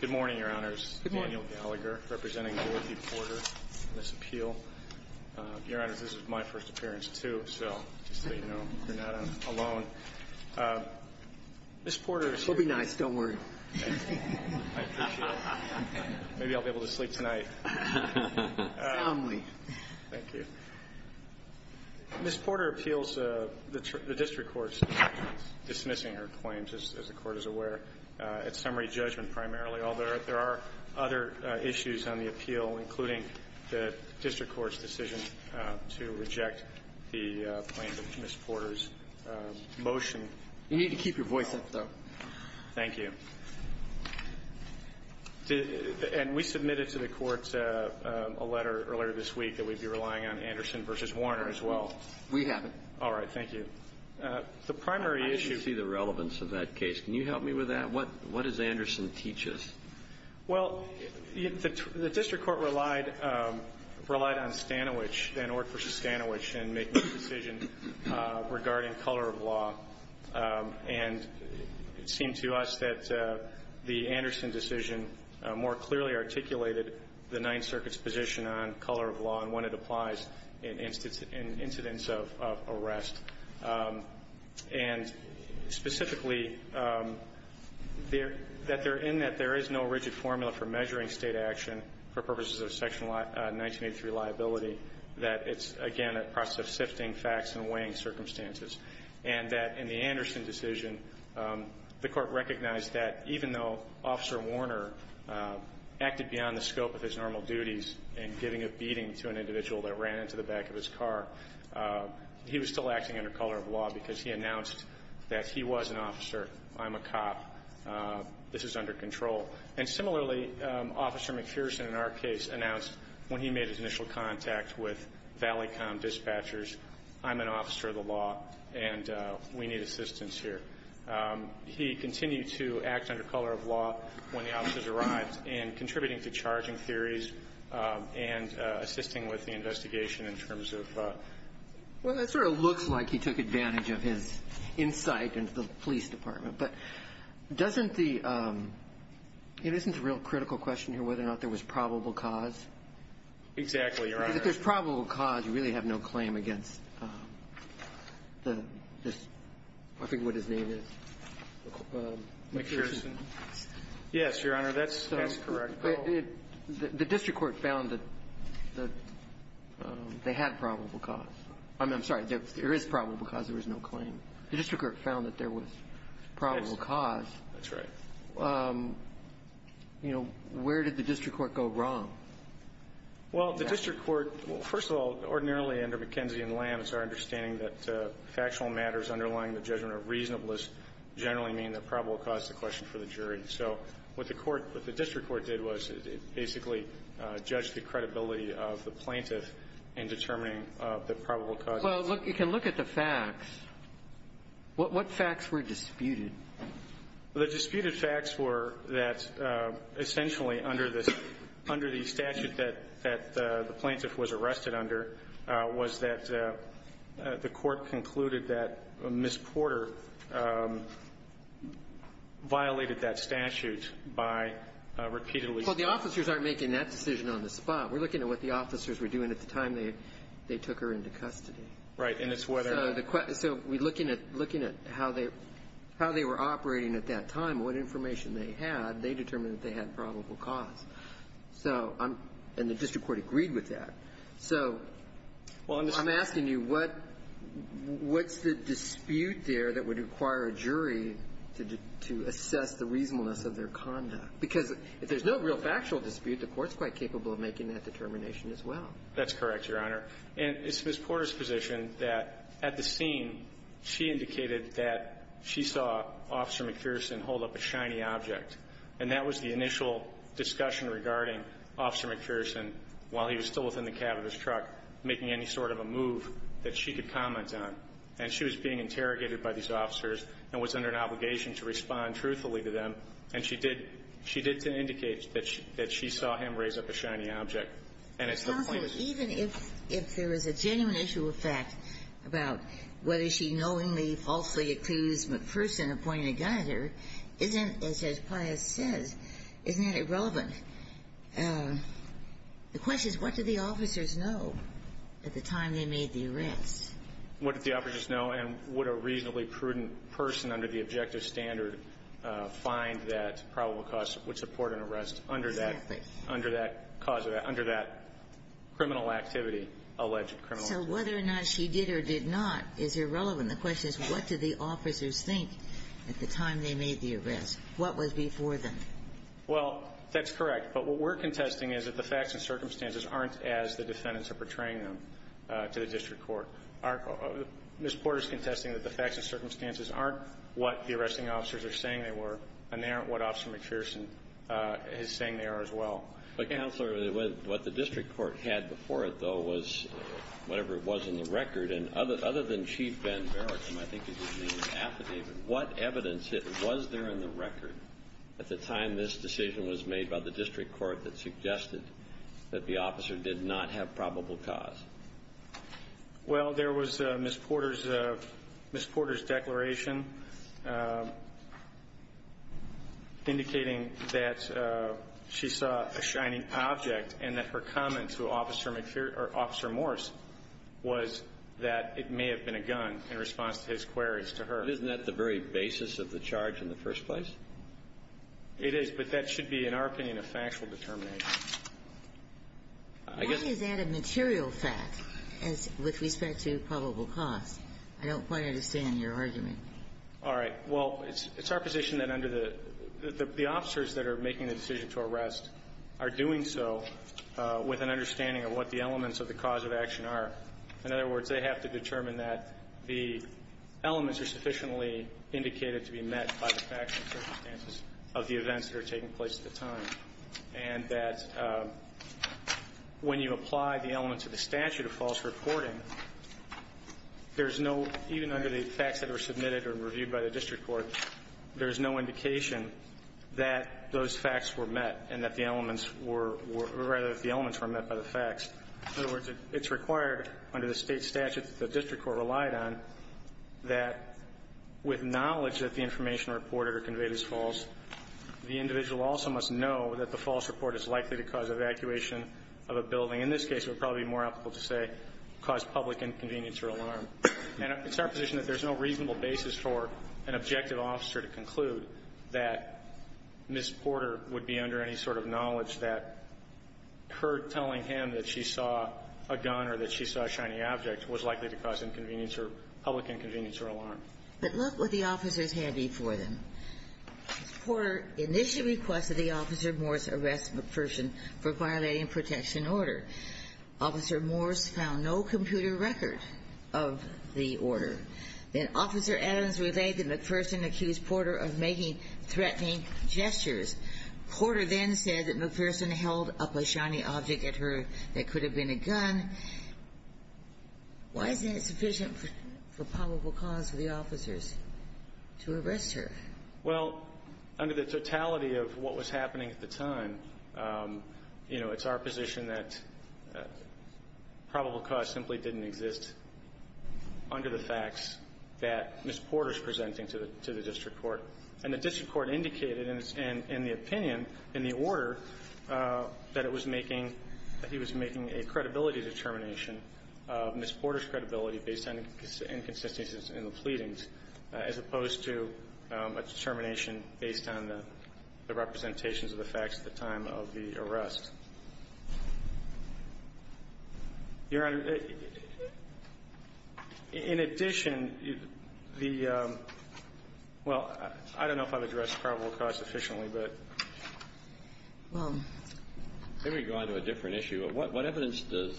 Good morning, Your Honors. Daniel Gallagher, representing Dorothy Porter in this appeal. Your Honors, this is my first appearance, too, so just so you know, you're not alone. Ms. Porter is here. She'll be nice, don't worry. I appreciate it. Maybe I'll be able to sleep tonight. Fondly. Thank you. Ms. Porter appeals the district court's dismissing her claims, as the Court is aware, at summary judgment primarily, although there are other issues on the appeal, including the district court's decision to reject the claims of Ms. Porter's motion. You need to keep your voice up, though. Thank you. And we submitted to the Court a letter earlier this week that we'd be relying on Anderson v. Warner as well. We haven't. All right, thank you. I didn't see the relevance of that case. Can you help me with that? What does Anderson teach us? Well, the district court relied on Stanowich, Van Ork v. Stanowich, in making the decision regarding color of law. And it seemed to us that the Anderson decision more clearly articulated the Ninth Circuit's position on color of law and when it applies in incidents of arrest. And specifically, that they're in that there is no rigid formula for measuring state action for purposes of Section 1983 liability, that it's, again, a process of sifting facts and weighing circumstances. And that in the Anderson decision, the Court recognized that even though Officer Warner acted beyond the scope of his normal duties in giving a beating to an individual that ran into the back of his car, he was still acting under color of law because he announced that he was an officer, I'm a cop, this is under control. And similarly, Officer McPherson, in our case, announced when he made his initial contact with Valley Com Dispatchers, I'm an officer of the law and we need assistance here. He continued to act under color of law when the officers arrived and contributing to charging theories and assisting with the investigation in terms of the law. Well, that sort of looks like he took advantage of his insight into the police department. But doesn't the – it isn't a real critical question here whether or not there was probable cause. Exactly, Your Honor. If there's probable cause, you really have no claim against this, I think what his name is. McPherson. Yes, Your Honor. That's correct. The district court found that they had probable cause. I'm sorry. There is probable cause. There is no claim. The district court found that there was probable cause. That's right. You know, where did the district court go wrong? Well, the district court – well, first of all, ordinarily under McKenzie and Lamb, it's our understanding that factual matters underlying the judgment of reasonableness generally mean that probable cause is a question for the jury. So what the court – what the district court did was it basically judged the credibility of the plaintiff in determining the probable cause. Well, look, you can look at the facts. What facts were disputed? The disputed facts were that essentially under the statute that the plaintiff was arrested under was that the court concluded that Ms. Porter violated that statute by repeatedly – Well, the officers aren't making that decision on the spot. We're looking at what the officers were doing at the time they took her into custody. So we're looking at how they were operating at that time, what information they had. They determined that they had probable cause. So I'm – and the district court agreed with that. So I'm asking you what's the dispute there that would require a jury to assess the reasonableness of their conduct? Because if there's no real factual dispute, the court's quite capable of making that determination as well. That's correct, Your Honor. And it's Ms. Porter's position that at the scene, she indicated that she saw Officer McPherson hold up a shiny object. And that was the initial discussion regarding Officer McPherson, while he was still within the cab of his truck, making any sort of a move that she could comment on. And she was being interrogated by these officers and was under an obligation to respond truthfully to them. And she did – she did indicate that she saw him raise up a shiny object. And it's her point. Counsel, even if there is a genuine issue of fact about whether she knowingly falsely accused McPherson of pointing a gun at her, isn't – as Judge Pius says, isn't that irrelevant? The question is, what did the officers know at the time they made the arrests? What did the officers know? And would a reasonably prudent person under the objective standard find that probable cause would support an arrest under that – Exactly. Under that cause – under that criminal activity, alleged criminal activity. So whether or not she did or did not is irrelevant. The question is, what did the officers think at the time they made the arrests? What was before them? Well, that's correct. But what we're contesting is that the facts and circumstances aren't as the defendants are portraying them to the district court. Our – Ms. Porter's contesting that the facts and circumstances aren't what the arresting officers are saying they were, and they aren't what Officer McPherson is saying they are as well. But, Counselor, what the district court had before it, though, was whatever it was in the record. And other than Chief Ben Merrick, whom I think his name is affidavit, what evidence was there in the record at the time this decision was made by the district court that suggested that the officer did not have probable cause? Well, there was Ms. Porter's – Ms. Porter's declaration indicating that she saw a shining object and that her comment to Officer McPherson – or Officer Morse was that it may have been a gun in response to his queries to her. Isn't that the very basis of the charge in the first place? It is, but that should be, in our opinion, a factual determination. Why is that a material fact with respect to probable cause? I don't quite understand your argument. All right. Well, it's our position that under the – the officers that are making the decision to arrest are doing so with an understanding of what the elements of the cause of action are. In other words, they have to determine that the elements are sufficiently indicated to be met by the facts and circumstances of the events that are taking place at the time and that when you apply the elements of the statute of false reporting, there's no – even under the facts that were submitted or reviewed by the district court, there's no indication that those facts were met and that the elements were – or rather that the elements were met by the facts. In other words, it's required under the state statute that the district court relied on that with knowledge that the information reported or conveyed is false, the individual also must know that the false report is likely to cause evacuation of a building, in this case it would probably be more applicable to say cause public inconvenience or alarm. And it's our position that there's no reasonable basis for an objective officer to conclude that Ms. Porter would be under any sort of knowledge that her telling him that she saw a gun or that she saw a shiny object was likely to cause inconvenience or public inconvenience or alarm. But look what the officers had before them. Ms. Porter, initial request of the officer, Morse, arrested McPherson for violating protection order. Officer Morse found no computer record of the order. Then Officer Adams relayed that McPherson accused Porter of making threatening gestures. Porter then said that McPherson held up a shiny object at her that could have been a gun. Why isn't it sufficient for probable cause for the officers to arrest her? Well, under the totality of what was happening at the time, you know, it's our position that probable cause simply didn't exist under the facts that Ms. Porter is presenting to the district court. And the district court indicated in the opinion, in the order, that it was making he was making a credibility determination of Ms. Porter's credibility based on inconsistencies in the pleadings, as opposed to a determination based on the representations of the facts at the time of the arrest. Your Honor, in addition, the – well, I don't know if I've addressed probable cause efficiently, but. Let me go on to a different issue. What evidence do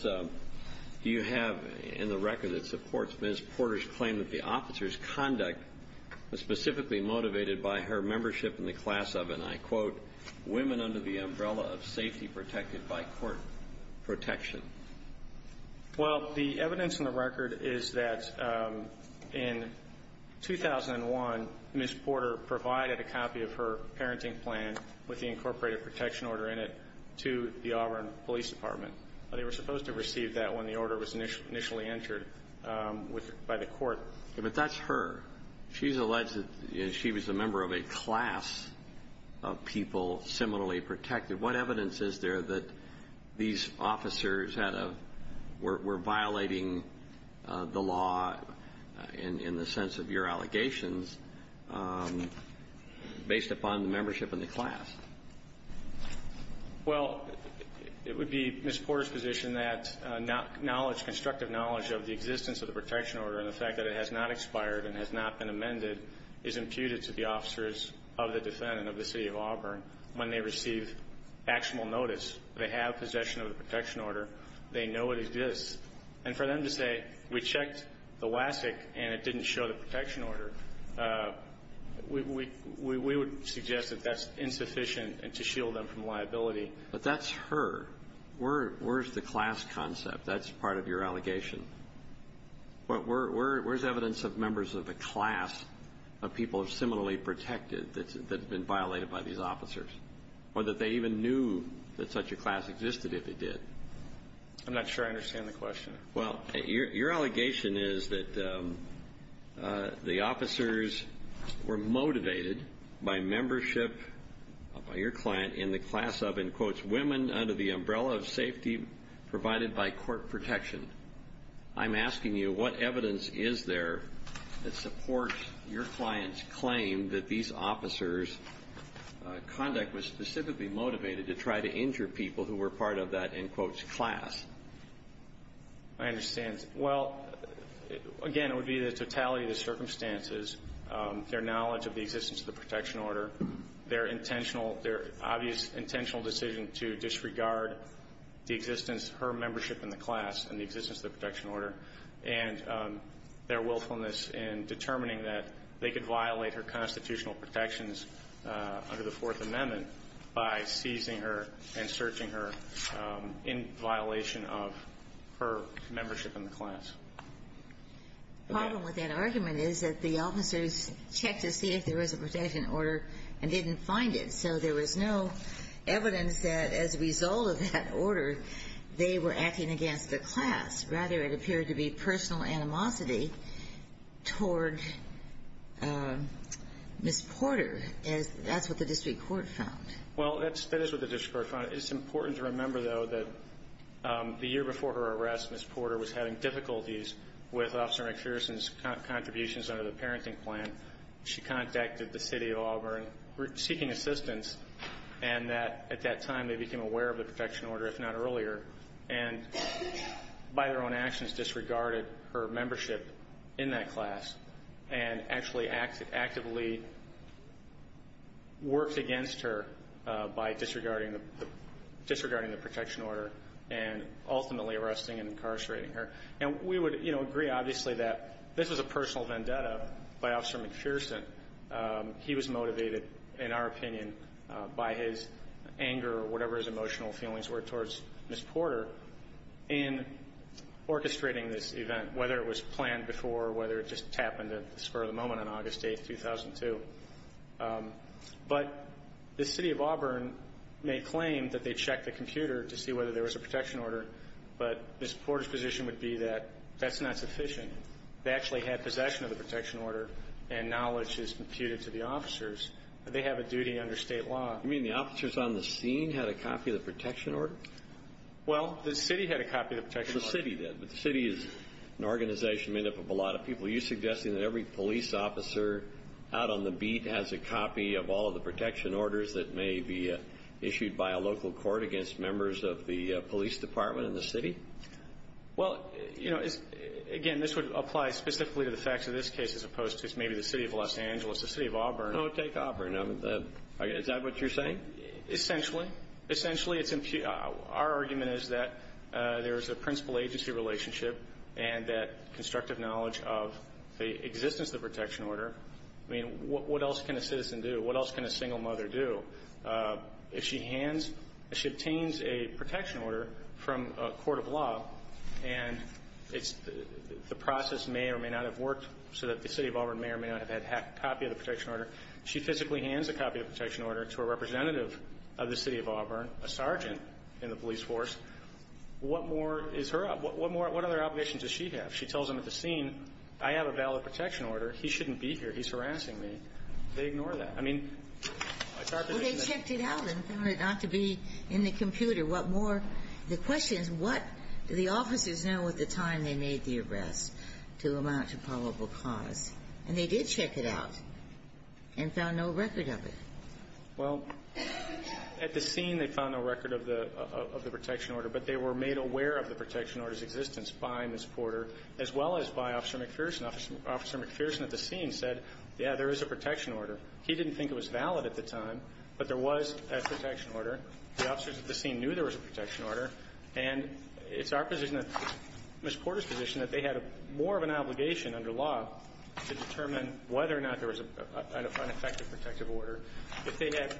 you have in the record that supports Ms. Porter's claim that the officer's conduct was specifically motivated by her membership in the class of, and I quote, women under the umbrella of safety protected by court protection? Well, the evidence in the record is that in 2001, Ms. Porter provided a copy of her parenting plan with the incorporated protection order in it to the Auburn Police Department. They were supposed to receive that when the order was initially entered by the court. But that's her. She's alleged that she was a member of a class of people similarly protected. What evidence is there that these officers were violating the law in the sense of your allegations based upon membership in the class? Well, it would be Ms. Porter's position that knowledge, constructive knowledge of the existence of the protection order and the fact that it has not expired and has not been amended is imputed to the officers of the defendant of the city of Auburn when they receive actual notice. They have possession of the protection order. They know it exists. And for them to say we checked the WASC and it didn't show the protection order, we would suggest that that's insufficient to shield them from liability. But that's her. Where's the class concept? That's part of your allegation. Where's evidence of members of the class of people similarly protected that's been violated by these officers or that they even knew that such a class existed if it did? I'm not sure I understand the question. Well, your allegation is that the officers were motivated by membership by your client in the class of, in quotes, women under the umbrella of safety provided by court protection. I'm asking you what evidence is there that supports your client's claim that these officers' conduct was specifically motivated to try to injure people who were part of that, in quotes, class? I understand. Well, again, it would be the totality of the circumstances, their knowledge of the existence of the protection order, their intentional, their obvious intentional decision to disregard the existence, her membership in the class and the existence of the protection order, and their willfulness in determining that they could violate her constitutional protections under the Fourth Amendment by seizing her and searching her in violation of her membership in the class. The problem with that argument is that the officers checked to see if there was a protection order and didn't find it. So there was no evidence that, as a result of that order, they were acting against the class. Rather, it appeared to be personal animosity toward Ms. Porter. That's what the district court found. Well, that is what the district court found. It's important to remember, though, that the year before her arrest, Ms. Porter was having difficulties with Officer McPherson's contributions under the parenting plan. She contacted the city of Auburn, seeking assistance, and at that time they became aware of the protection order, if not earlier, and by their own actions disregarded her membership in that class and actually actively worked against her by disregarding the protection order and ultimately arresting and incarcerating her. And we would agree, obviously, that this was a personal vendetta by Officer McPherson. He was motivated, in our opinion, by his anger or whatever his emotional feelings were towards Ms. Porter in orchestrating this event, whether it was planned before or whether it just happened at the spur of the moment on August 8, 2002. But the city of Auburn may claim that they checked the computer to see whether there That's not sufficient. They actually had possession of the protection order and knowledge is computed to the officers. They have a duty under state law. You mean the officers on the scene had a copy of the protection order? Well, the city had a copy of the protection order. The city did. But the city is an organization made up of a lot of people. Are you suggesting that every police officer out on the beat has a copy of all of the protection orders that may be issued by a local court against members of the police department in the city? Well, you know, again, this would apply specifically to the facts of this case as opposed to maybe the city of Los Angeles, the city of Auburn. Oh, take Auburn. Is that what you're saying? Essentially. Essentially, our argument is that there is a principal agency relationship and that constructive knowledge of the existence of the protection order. I mean, what else can a citizen do? What else can a single mother do? If she obtains a protection order from a court of law and the process may or may not have worked so that the city of Auburn may or may not have had a copy of the protection order, she physically hands a copy of the protection order to a representative of the city of Auburn, a sergeant in the police force. What more is her obligation? What other obligations does she have? She tells them at the scene, I have a valid protection order. He shouldn't be here. He's harassing me. They ignore that. Well, they checked it out and found it not to be in the computer. What more? The question is, what do the officers know at the time they made the arrest to amount to probable cause? And they did check it out and found no record of it. Well, at the scene, they found no record of the protection order, but they were made aware of the protection order's existence by Ms. Porter as well as by Officer McPherson. Officer McPherson at the scene said, yeah, there is a protection order. He didn't think it was valid at the time, but there was a protection order. The officers at the scene knew there was a protection order. And it's our position, Ms. Porter's position, that they had more of an obligation under law to determine whether or not there was an ineffective protective order. If they had,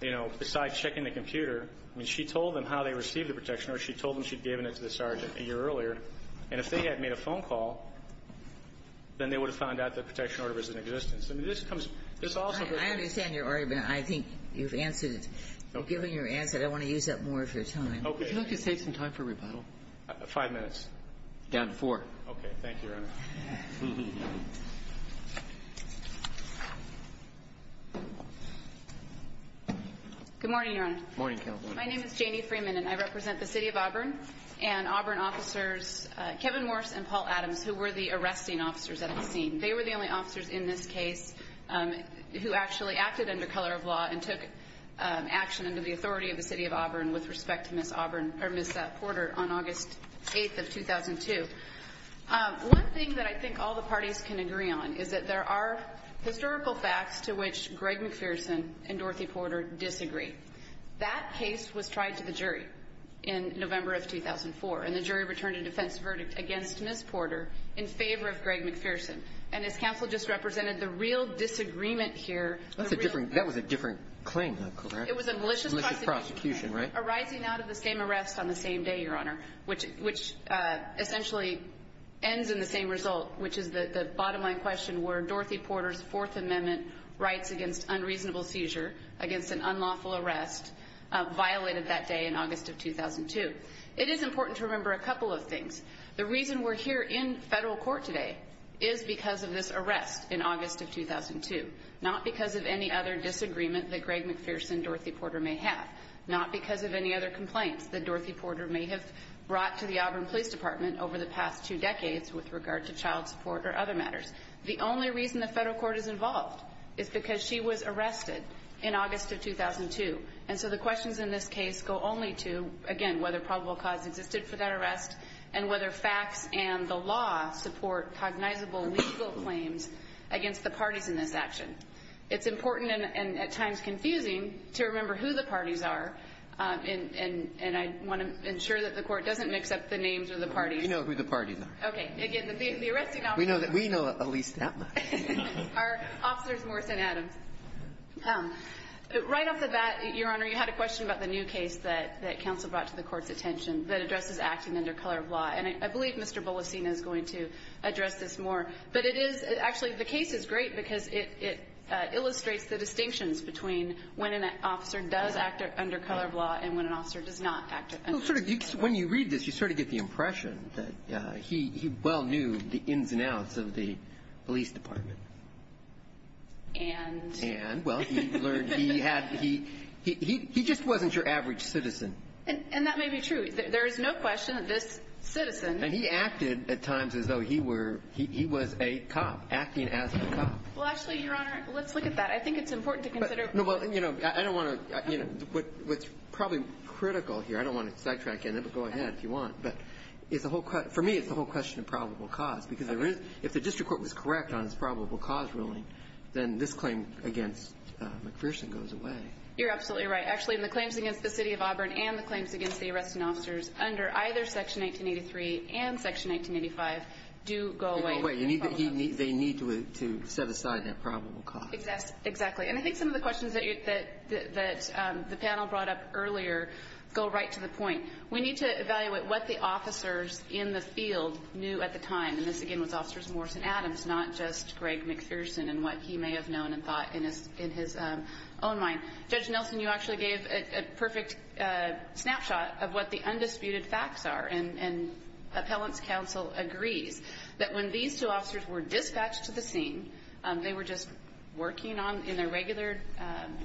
you know, besides checking the computer, I mean, she told them how they received the protection order. She told them she'd given it to the sergeant a year earlier. And if they had made a phone call, then they would have found out the protection order was in existence. I understand your argument. I think you've answered it. Given your answer, I don't want to use up more of your time. Okay. Would you like to take some time for rebuttal? Five minutes. Down to four. Okay. Thank you, Your Honor. Good morning, Your Honor. Morning, Counsel. My name is Janie Freeman, and I represent the City of Auburn and Auburn officers Kevin Morse and Paul Adams, who were the arresting officers at the scene. They were the only officers in this case who actually acted under color of law and took action under the authority of the City of Auburn with respect to Ms. Auburn, or Ms. Porter, on August 8th of 2002. One thing that I think all the parties can agree on is that there are historical facts to which Greg McPherson and Dorothy Porter disagree. That case was tried to the jury in November of 2004, and the jury returned a defense verdict against Ms. Porter in favor of Greg McPherson. And as Counsel just represented, the real disagreement here... That was a different claim, though, correct? It was a malicious prosecution. Malicious prosecution, right? Arising out of the same arrest on the same day, Your Honor, which essentially ends in the same result, which is the bottom line question where Dorothy Porter's Fourth Amendment rights against unreasonable seizure, against an unlawful arrest, violated that day in August of 2002. It is important to remember a couple of things. The reason we're here in federal court today is because of this arrest in August of 2002, not because of any other disagreement that Greg McPherson and Dorothy Porter may have, not because of any other complaints that Dorothy Porter may have brought to the Auburn Police Department over the past two decades with regard to child support or other matters. The only reason the federal court is involved is because she was arrested in August of 2002, and so the questions in this case go only to, again, whether probable cause existed for that arrest and whether facts and the law support cognizable legal claims against the parties in this action. It's important and at times confusing to remember who the parties are, and I want to ensure that the court doesn't mix up the names of the parties. We know who the parties are. Okay. Again, the arresting officers... We know at least that much. ...are Officers Morse and Adams. Right off the bat, Your Honor, you had a question about the new case that counsel brought to the court's attention that addresses acting under color of law, and I believe Mr. Bolasina is going to address this more. But it is actually, the case is great because it illustrates the distinctions between when an officer does act under color of law and when an officer does not act under color of law. When you read this, you sort of get the impression that he well knew the ins and outs of the police department. And? And, well, he learned, he had, he just wasn't your average citizen. And that may be true. There is no question that this citizen... And he acted at times as though he were, he was a cop, acting as a cop. Well, actually, Your Honor, let's look at that. I think it's important to consider... No, well, you know, I don't want to, you know, what's probably critical here, I don't want to sidetrack in it, but go ahead if you want. But it's the whole, for me, it's the whole question of probable cause because if the district court was correct on its probable cause ruling, then this claim against McPherson goes away. You're absolutely right. Actually, the claims against the City of Auburn and the claims against the arrested officers under either Section 1983 and Section 1985 do go away. They go away. They need to set aside that probable cause. Exactly. And I think some of the questions that the panel brought up earlier go right to the point. We need to evaluate what the officers in the field knew at the time. And this, again, was Officers Morse and Adams, not just Greg McPherson and what he may have known and thought in his own mind. Judge Nelson, you actually gave a perfect snapshot of what the undisputed facts are. And appellant's counsel agrees that when these two officers were dispatched to the scene, they were just working in their regular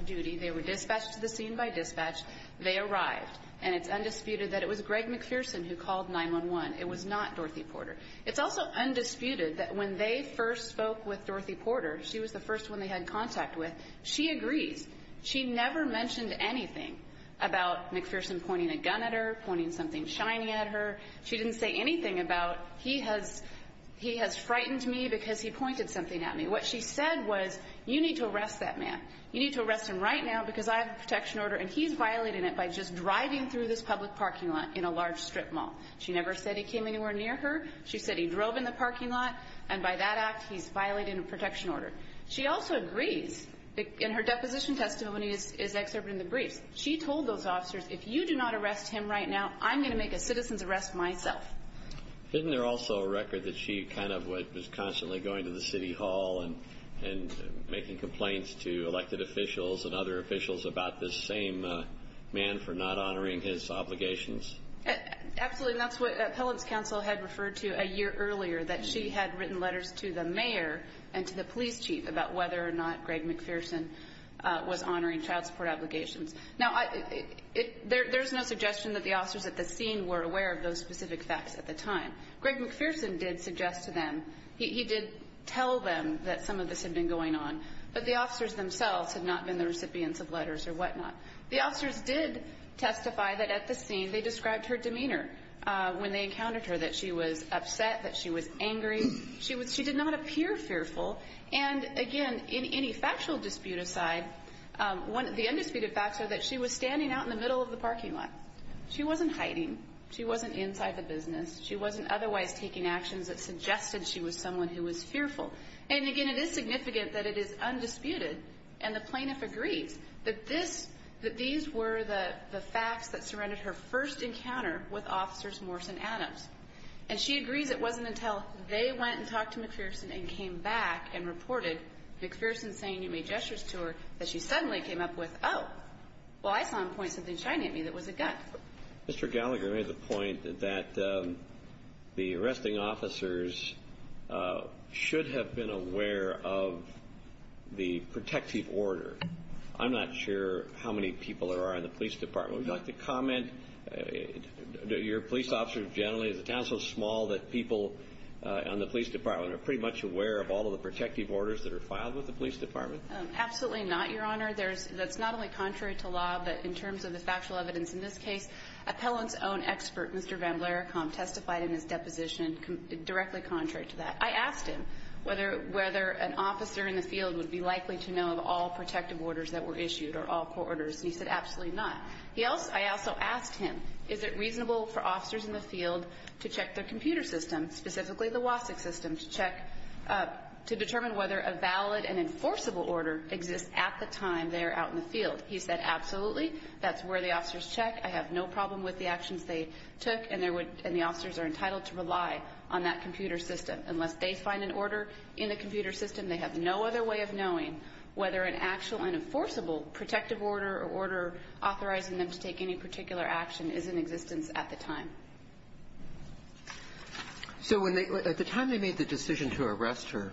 duty. They were dispatched to the scene by dispatch. They arrived. And it's undisputed that it was Greg McPherson who called 911. It was not Dorothy Porter. It's also undisputed that when they first spoke with Dorothy Porter, she was the first one they had contact with, she agrees. She never mentioned anything about McPherson pointing a gun at her, pointing something shiny at her. She didn't say anything about, he has frightened me because he pointed something at me. What she said was, you need to arrest that man. You need to arrest him right now because I have a protection order and he's violating it by just driving through this public parking lot in a large strip mall. She never said he came anywhere near her. She said he drove in the parking lot and by that act, he's violating a protection order. She also agrees in her deposition testimony is excerpted in the briefs. She told those officers, if you do not arrest him right now, I'm going to make a citizen's arrest myself. Isn't there also a record that she kind of was constantly going to the city hall and making complaints to elected officials and other officials about this same man for not honoring his obligations? Absolutely. And that's what appellant's counsel had referred to a year earlier, that she had written letters to the mayor and to the police chief about whether or not Greg McPherson was honoring child support obligations. Now, there's no suggestion that the officers at the scene were aware of those specific facts at the time. Greg McPherson did suggest to them, he did tell them that some of this had been going on, but the officers themselves had not been the recipients of letters or whatnot. The officers did testify that at the scene they described her demeanor when they encountered her, that she was upset, that she was angry. She did not appear fearful. And, again, in any factual dispute aside, the undisputed facts are that she was standing out in the middle of the parking lot. She wasn't hiding. She wasn't inside the business. She wasn't otherwise taking actions that suggested she was someone who was fearful. And, again, it is significant that it is undisputed and the plaintiff agrees that this, that these were the facts that surrounded her first encounter with officers Morse and Adams. And she agrees it wasn't until they went and talked to McPherson and came back and reported McPherson saying you made gestures to her that she suddenly came up with, oh, well, I saw him point something shiny at me that was a gun. Mr. Gallagher made the point that the arresting officers should have been aware of the protective order. I'm not sure how many people there are in the police department. Would you like to comment? Your police officers generally, is the town so small that people in the police department are pretty much aware of all of the protective orders that are filed with the police department? Absolutely not, Your Honor. That's not only contrary to law, but in terms of the factual evidence in this case, appellant's own expert, Mr. Van Blericamp, testified in his deposition directly contrary to that. I asked him whether an officer in the field would be likely to know of all protective orders that were issued or all court orders, and he said absolutely not. I also asked him is it reasonable for officers in the field to check their computer system, specifically the WASC system, to check to determine whether a valid and enforceable order exists at the time they are out in the field. He said absolutely. That's where the officers check. I have no problem with the actions they took, and the officers are entitled to rely on that computer system. Unless they find an order in the computer system, they have no other way of determining whether an actual and enforceable protective order or order authorizing them to take any particular action is in existence at the time. So at the time they made the decision to arrest her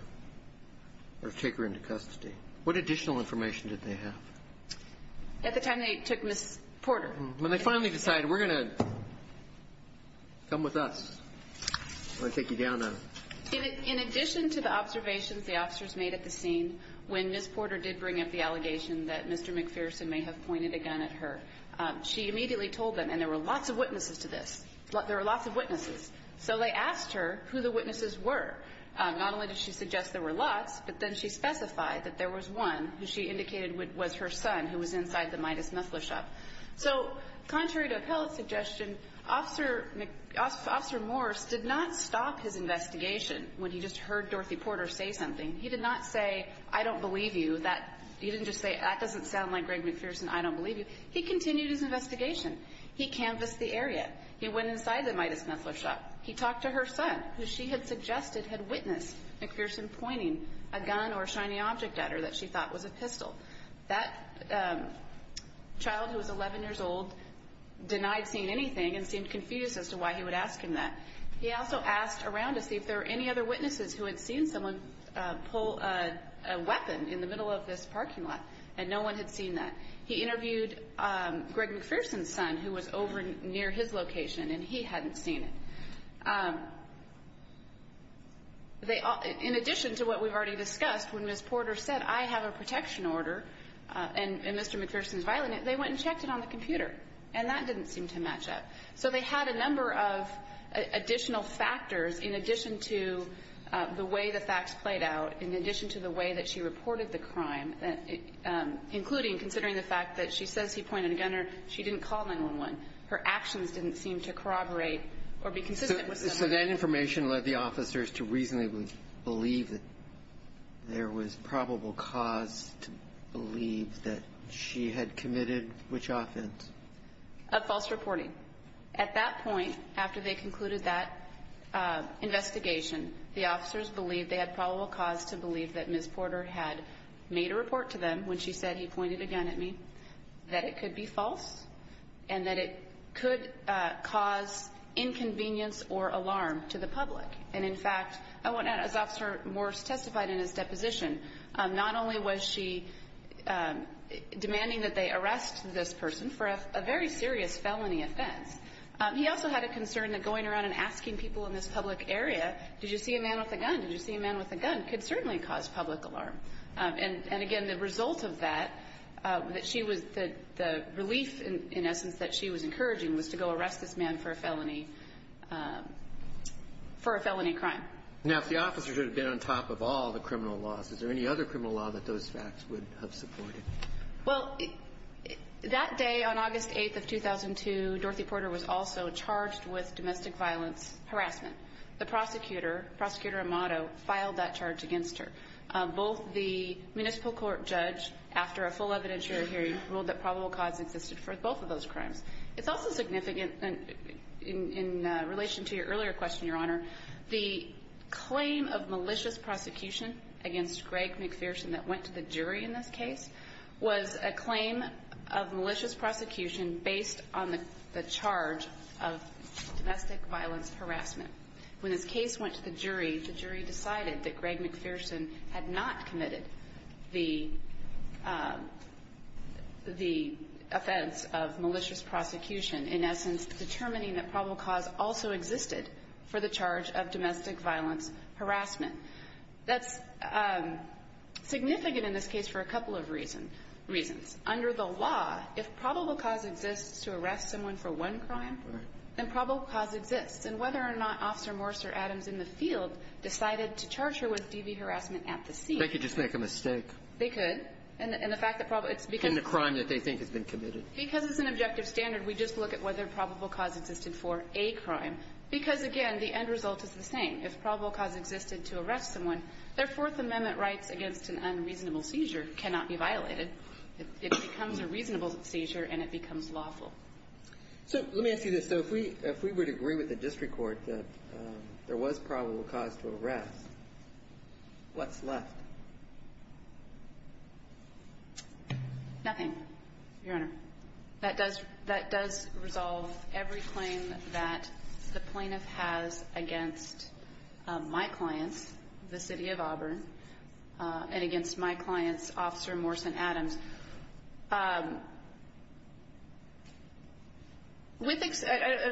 or take her into custody, what additional information did they have? At the time they took Ms. Porter. When they finally decided, we're going to come with us, we're going to take you down on it. The officer did bring up the allegation that Mr. McPherson may have pointed a gun at her. She immediately told them, and there were lots of witnesses to this. There were lots of witnesses. So they asked her who the witnesses were. Not only did she suggest there were lots, but then she specified that there was one who she indicated was her son who was inside the Midas muffler shop. So contrary to Appellate's suggestion, Officer Morris did not stop his investigation when he just heard Dorothy Porter say something. He did not say, I don't believe you. He didn't just say, that doesn't sound like Greg McPherson. I don't believe you. He continued his investigation. He canvassed the area. He went inside the Midas muffler shop. He talked to her son, who she had suggested had witnessed McPherson pointing a gun or a shiny object at her that she thought was a pistol. That child, who was 11 years old, denied seeing anything and seemed confused as to why he would ask him that. He also asked around to see if there were any other witnesses who had seen someone pull a weapon in the middle of this parking lot. And no one had seen that. He interviewed Greg McPherson's son, who was over near his location, and he hadn't seen it. In addition to what we've already discussed, when Ms. Porter said, I have a protection order and Mr. McPherson's violent, they went and checked it on the computer. And that didn't seem to match up. So they had a number of additional factors in addition to the way the facts played out, in addition to the way that she reported the crime, including considering the fact that she says he pointed a gun or she didn't call 911. Her actions didn't seem to corroborate or be consistent with them. So that information led the officers to reasonably believe that there was probable cause to believe that she had committed which offense? Of false reporting. At that point, after they concluded that investigation, the officers believed they had probable cause to believe that Ms. Porter had made a report to them when she said, he pointed a gun at me, that it could be false and that it could cause inconvenience or alarm to the public. And in fact, as Officer Morse testified in his deposition, not only was she demanding that they arrest this person for a very serious felony offense, he also had a concern that going around and asking people in this public area, did you see a man with a gun? Did you see a man with a gun? Could certainly cause public alarm. And again, the result of that, that she was, the relief in essence that she was encouraging was to go arrest this man for a felony for a felony crime. Now, if the officers would have been on top of all the criminal laws, is there any other criminal law that those facts would have supported? Well, that day on August 8th of 2002, Dorothy Porter was also charged with domestic violence harassment. The prosecutor, Prosecutor Amato, filed that charge against her. Both the municipal court judge, after a full evidentiary hearing, ruled that probable cause existed for both of those crimes. It's also significant in relation to your earlier question, Your Honor, the claim of malicious prosecution against Greg McPherson that went to the jury in this case was a claim of malicious prosecution based on the charge of domestic violence harassment. When this case went to the jury, the jury decided that Greg McPherson had not committed the offense of malicious prosecution, in essence, determining that probable cause also existed for the charge of domestic violence harassment. That's significant in this case for a couple of reasons. Under the law, if probable cause exists to arrest someone for one crime, then probable cause exists. And whether or not Officer Morse or Adams in the field decided to charge her with DV harassment at the scene. They could just make a mistake. They could. And the fact that probably it's because of the crime that they think has been committed. Because it's an objective standard, we just look at whether probable cause existed for a crime. Because, again, the end result is the same. If probable cause existed to arrest someone, their Fourth Amendment rights against an unreasonable seizure cannot be violated. It becomes a reasonable seizure and it becomes lawful. So let me ask you this. So if we would agree with the district court that there was probable cause to arrest, what's left? Nothing, Your Honor. That does resolve every claim that the plaintiff has against my clients, the City of Auburn, and against my clients, Officer Morse and Adams. I would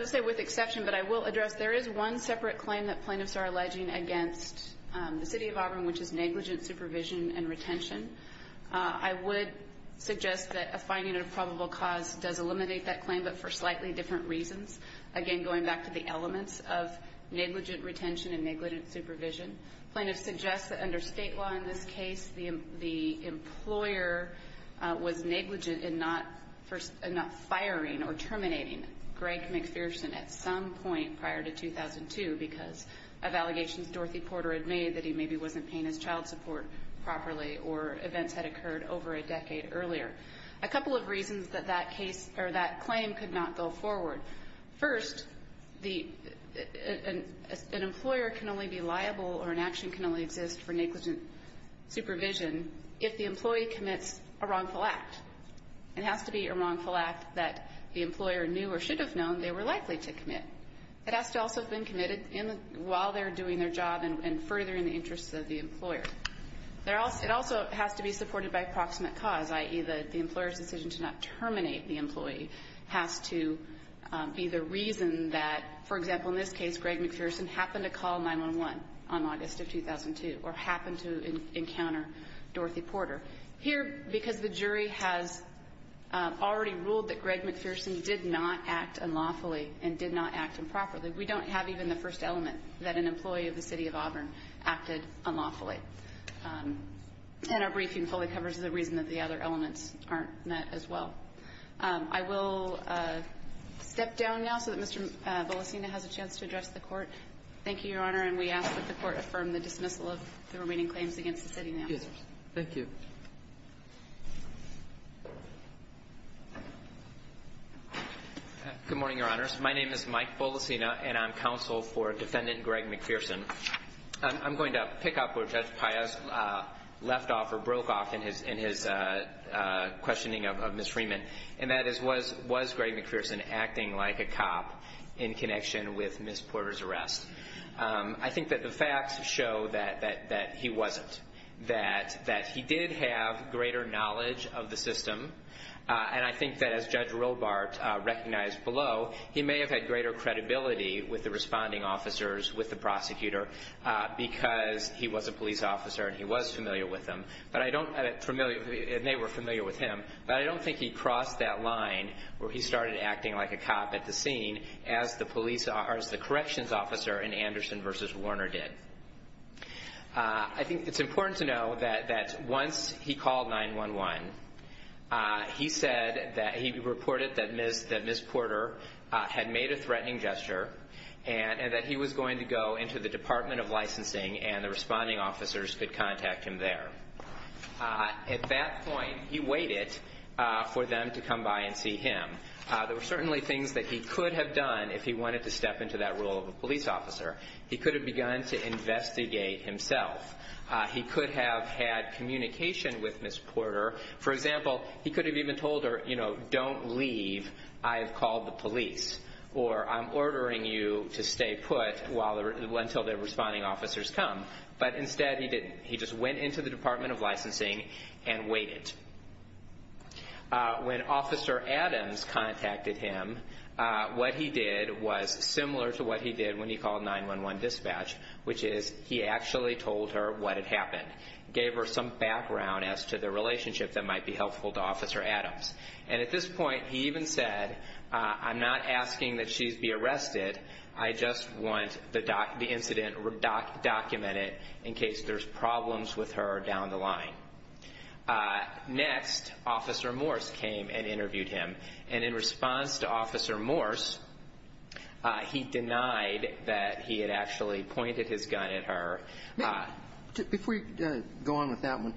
say with exception, but I will address, there is one separate claim that plaintiffs are alleging against the City of Auburn, which is negligent supervision and retention. I would suggest that a finding of probable cause does eliminate that claim, but for slightly different reasons. Again, going back to the elements of negligent retention and negligent supervision. Plaintiffs suggest that under state law in this case, the employer was negligent in not firing or terminating Greg McPherson at some point prior to 2002 because of allegations Dorothy Porter had made that he maybe wasn't paying his child support properly or events had occurred over a decade earlier. A couple of reasons that that claim could not go forward. First, an employer can only be liable or an action can only exist for negligent supervision if the employee commits a wrongful act. It has to be a wrongful act that the employer knew or should have known they were likely to commit. It has to also have been committed while they're doing their job and furthering the interests of the employer. It also has to be supported by approximate cause, i.e., the employer's decision to not terminate the employee has to be the reason that, for example, in this case, Greg McPherson happened to call 911 on August of 2002 or happened to encounter Dorothy Porter. Here, because the jury has already ruled that Greg McPherson did not act unlawfully and did not act improperly, we don't have even the first element that an employee of the city of Auburn acted unlawfully. And our briefing fully covers the reason that the other elements aren't met as well. I will step down now so that Mr. Bolasina has a chance to address the court. Thank you, Your Honor, and we ask that the court affirm the dismissal of the remaining claims against the city now. Thank you. Good morning, Your Honors. My name is Mike Bolasina, and I'm counsel for Defendant Greg McPherson. I'm going to pick up where Judge Piaz left off or broke off in his questioning of Ms. Freeman, and that is, was Greg McPherson acting like a cop in connection with Ms. Porter's arrest? I think that the facts show that he wasn't, that he did have greater knowledge of the system, and I think that as Judge Robart recognized below, he may have had greater credibility with the responding officers, with the prosecutor, because he was a police officer and he was familiar with them, and they were familiar with him, but I don't think he crossed that line where he started acting like a cop at the scene as the police or as the corrections officer in Anderson v. Warner did. I think it's important to know that once he called 911, he said that he reported that Ms. Porter had made a threatening gesture and that he was going to go into the Department of Licensing and the responding officers could contact him there. At that point, he waited for them to come by and see him. There were certainly things that he could have done if he wanted to step into that role of a police officer. He could have begun to investigate himself. He could have had communication with Ms. Porter. For example, he could have even told her, you know, don't leave, I have called the police, or I'm ordering you to stay put until the responding officers come, but instead he didn't. He just went into the Department of Licensing and waited. When Officer Adams contacted him, what he did was similar to what he did when he called 911 dispatch, which is he actually told her what had happened, gave her some background as to the relationship that might be helpful to Officer Adams. At this point, he even said, I'm not asking that she be arrested, I just want the incident documented in case there's problems with her down the line. Next, Officer Morse came and interviewed him. And in response to Officer Morse, he denied that he had actually pointed his gun at her. Before you go on with that one,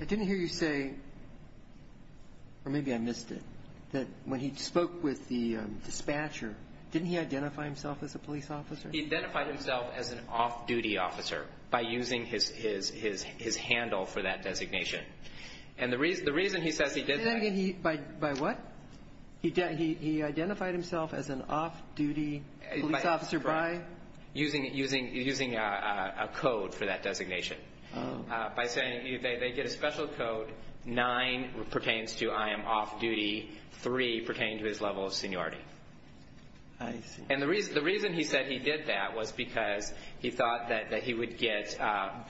I didn't hear you say, or maybe I missed it, that when he spoke with the dispatcher, didn't he identify himself as a police officer? He identified himself as an off-duty officer by using his handle for that designation. And the reason he says he did that. By what? He identified himself as an off-duty police officer by? Using a code for that designation. By saying they get a special code, nine pertains to I am off-duty, three pertain to his level of seniority. And the reason he said he did that was because he thought that he would get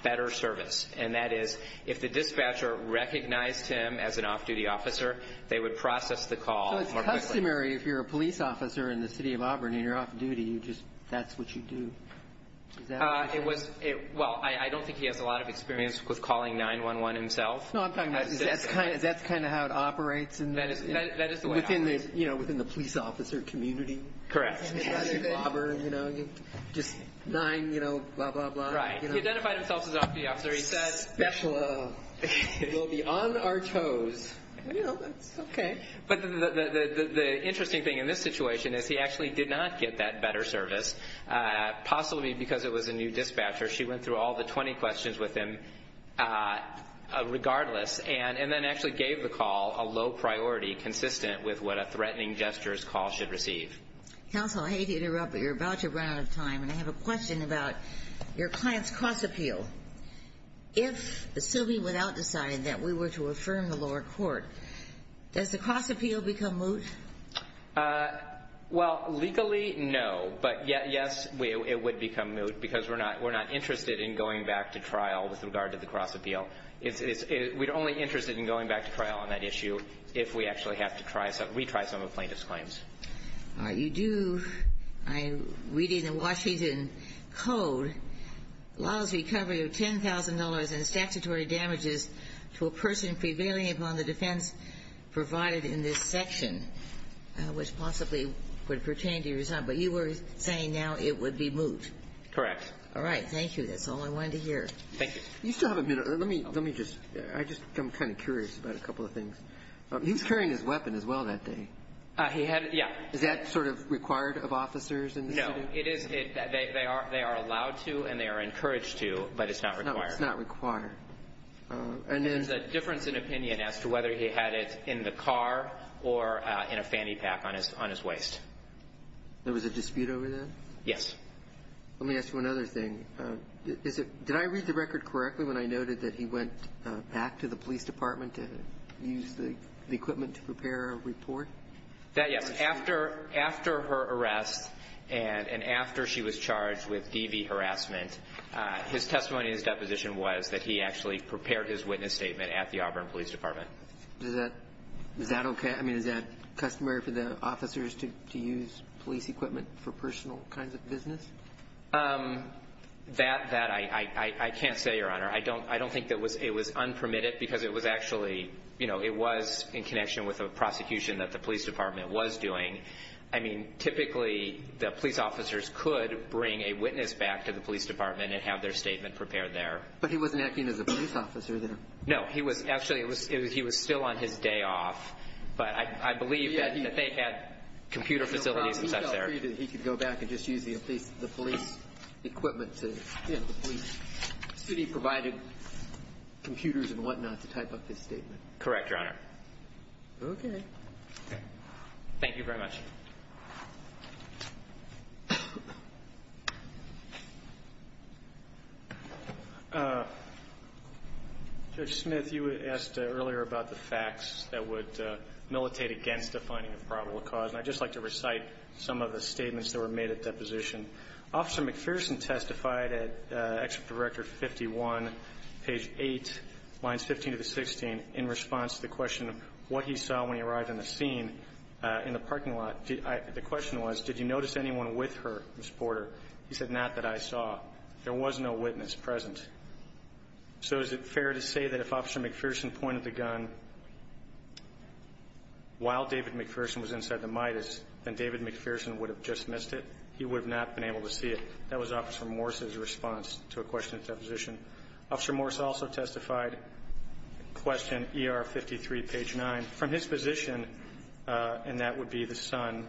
better service. And that is if the dispatcher recognized him as an off-duty officer, they would process the call. So it's customary if you're a police officer in the city of Auburn and you're off-duty, that's what you do. Well, I don't think he has a lot of experience with calling 911 himself. No, I'm talking about, that's kind of how it operates. That is the way it operates. Within the police officer community. Correct. Just nine, you know, blah, blah, blah. Right. He identified himself as an off-duty officer. He said. Special. We'll be on our toes. Well, that's okay. But the interesting thing in this situation is he actually did not get that better service, possibly because it was a new dispatcher. She went through all the 20 questions with him regardless, and then actually gave the call a low priority consistent with what a threatening gestures call should receive. Counsel, I hate to interrupt, but you're about to run out of time. And I have a question about your client's cross appeal. If the sylvie would out decide that we were to affirm the lower court, does the cross appeal become moot? Well, legally, no. But, yes, it would become moot because we're not interested in going back to trial with regard to the cross appeal. We're only interested in going back to trial on that issue if we actually have to retry some of the plaintiff's claims. You do, I'm reading the Washington Code, allows recovery of $10,000 in statutory damages to a person prevailing upon the defense provided in this section, which possibly would pertain to your son. But you were saying now it would be moot. Correct. All right. Thank you. That's all I wanted to hear. Thank you. You still have a minute. Let me just go. I'm kind of curious about a couple of things. He was carrying his weapon as well that day. He had it, yeah. Is that sort of required of officers in the city? No. It is. They are allowed to and they are encouraged to, but it's not required. It's not required. And then the difference in opinion as to whether he had it in the car or in a fanny pack on his waist. There was a dispute over that? Yes. Let me ask you another thing. Did I read the record correctly when I noted that he went back to the police department to use the equipment to prepare a report? Yes. After her arrest and after she was charged with DV harassment, his testimony in his deposition was that he actually prepared his witness statement at the Auburn Police Department. Is that okay? I mean, is that customary for the officers to use police equipment for personal kinds of business? That I can't say, Your Honor. I don't think it was unpermitted because it was actually, you know, it was in connection with a prosecution that the police department was doing. I mean, typically the police officers could bring a witness back to the police department and have their statement prepared there. But he wasn't acting as a police officer there? No. Actually, he was still on his day off, but I believe that they had computer facilities and such there. He felt free that he could go back and just use the police equipment to get the testimony. So the city provided computers and whatnot to type up his statement? Correct, Your Honor. Okay. Thank you very much. Judge Smith, you asked earlier about the facts that would militate against defining a probable cause, and I'd just like to recite some of the statements that were made at deposition. Officer McPherson testified at Executive Director 51, page 8, lines 15 to the 16, in response to the question of what he saw when he arrived on the scene in the parking lot. The question was, did you notice anyone with her, Ms. Porter? He said, not that I saw. There was no witness present. So is it fair to say that if Officer McPherson pointed the gun while David McPherson was inside the Midas, then David McPherson would have just missed it? He would have not been able to see it. That was Officer Morse's response to a question at deposition. Officer Morse also testified, question ER 53, page 9, from his position, and that would be the son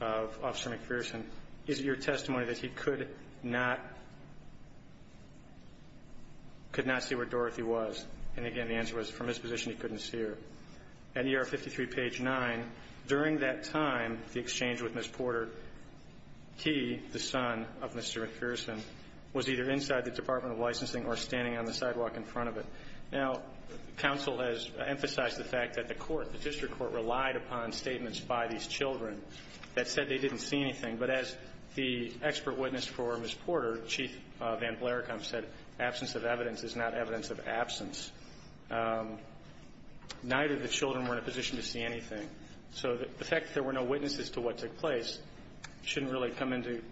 of Officer McPherson, is it your testimony that he could not see where Dorothy was? And again, the answer was, from his position, he couldn't see her. At ER 53, page 9, during that time, the exchange with Ms. Porter, he, the son of Mr. McPherson, was either inside the Department of Licensing or standing on the sidewalk in front of it. Now, counsel has emphasized the fact that the court, the district court, relied upon statements by these children that said they didn't see anything. But as the expert witness for Ms. Porter, Chief Van Blarekamp, said, absence of evidence is not evidence of absence. Neither of the children were in a position to see anything. So the fact that there were no witnesses to what took place shouldn't really come into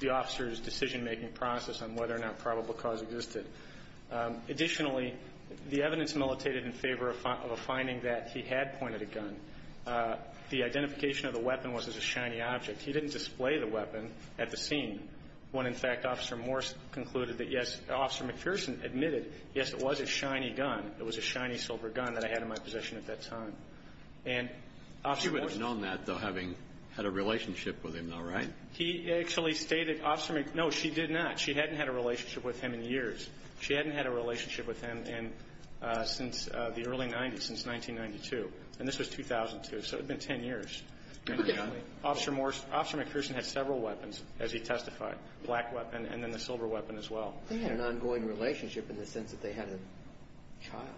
the officer's decision-making process on whether or not probable cause existed. Additionally, the evidence militated in favor of a finding that he had pointed a gun. The identification of the weapon was as a shiny object. He didn't display the weapon at the scene when, in fact, Officer Morse concluded that, yes, Officer McPherson admitted, yes, it was a shiny gun. It was a shiny silver gun that I had in my possession at that time. And Officer Morse ---- Kennedy. She would have known that, though, having had a relationship with him, though, right? He actually stated, Officer McPherson ---- no, she did not. She hadn't had a relationship with him in years. She hadn't had a relationship with him since the early 90s, since 1992. And this was 2002. So it had been ten years. Ten years. Officer Morse ---- Officer McPherson had several weapons, as he testified, black weapon and then the silver weapon as well. They had an ongoing relationship in the sense that they had a child.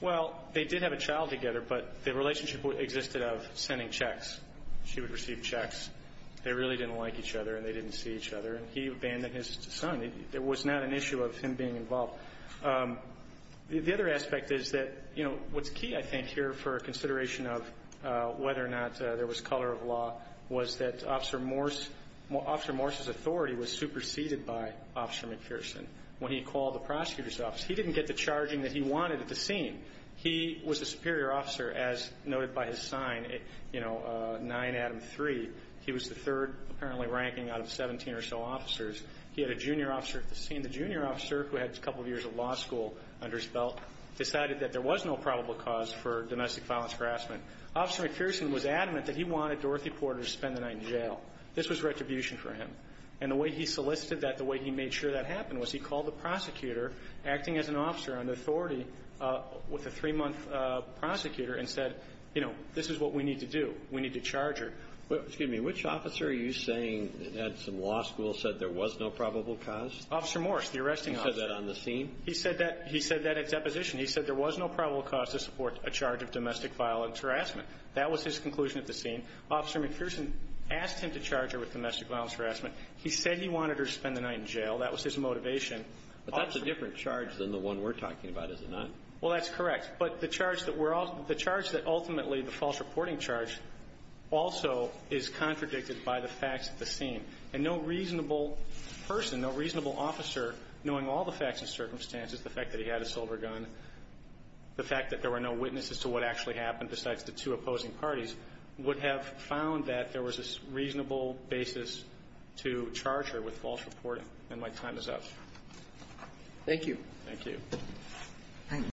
Well, they did have a child together, but the relationship existed of sending checks. She would receive checks. They really didn't like each other and they didn't see each other. And he abandoned his son. It was not an issue of him being involved. The other aspect is that, you know, what's key, I think, here for a consideration of whether or not there was color of law was that Officer Morse ---- Officer Morse was preceded by Officer McPherson. When he called the prosecutor's office, he didn't get the charging that he wanted at the scene. He was the superior officer, as noted by his sign, you know, 9 Adam 3. He was the third, apparently, ranking out of 17 or so officers. He had a junior officer at the scene. The junior officer, who had a couple of years of law school under his belt, decided that there was no probable cause for domestic violence harassment. Officer McPherson was adamant that he wanted Dorothy Porter to spend the night in jail. This was retribution for him. And the way he solicited that, the way he made sure that happened was he called the prosecutor, acting as an officer under authority with a three-month prosecutor, and said, you know, this is what we need to do. We need to charge her. Excuse me. Which officer are you saying at some law school said there was no probable cause? Officer Morse, the arresting officer. He said that on the scene? He said that at deposition. He said there was no probable cause to support a charge of domestic violence harassment. That was his conclusion at the scene. Officer McPherson asked him to charge her with domestic violence harassment. He said he wanted her to spend the night in jail. That was his motivation. But that's a different charge than the one we're talking about, is it not? Well, that's correct. But the charge that ultimately the false reporting charge also is contradicted by the facts at the scene. And no reasonable person, no reasonable officer, knowing all the facts and circumstances, the fact that he had a silver gun, the fact that there were no reasonable basis to charge her with false reporting. And my time is up. Thank you. Thank you. Thank you.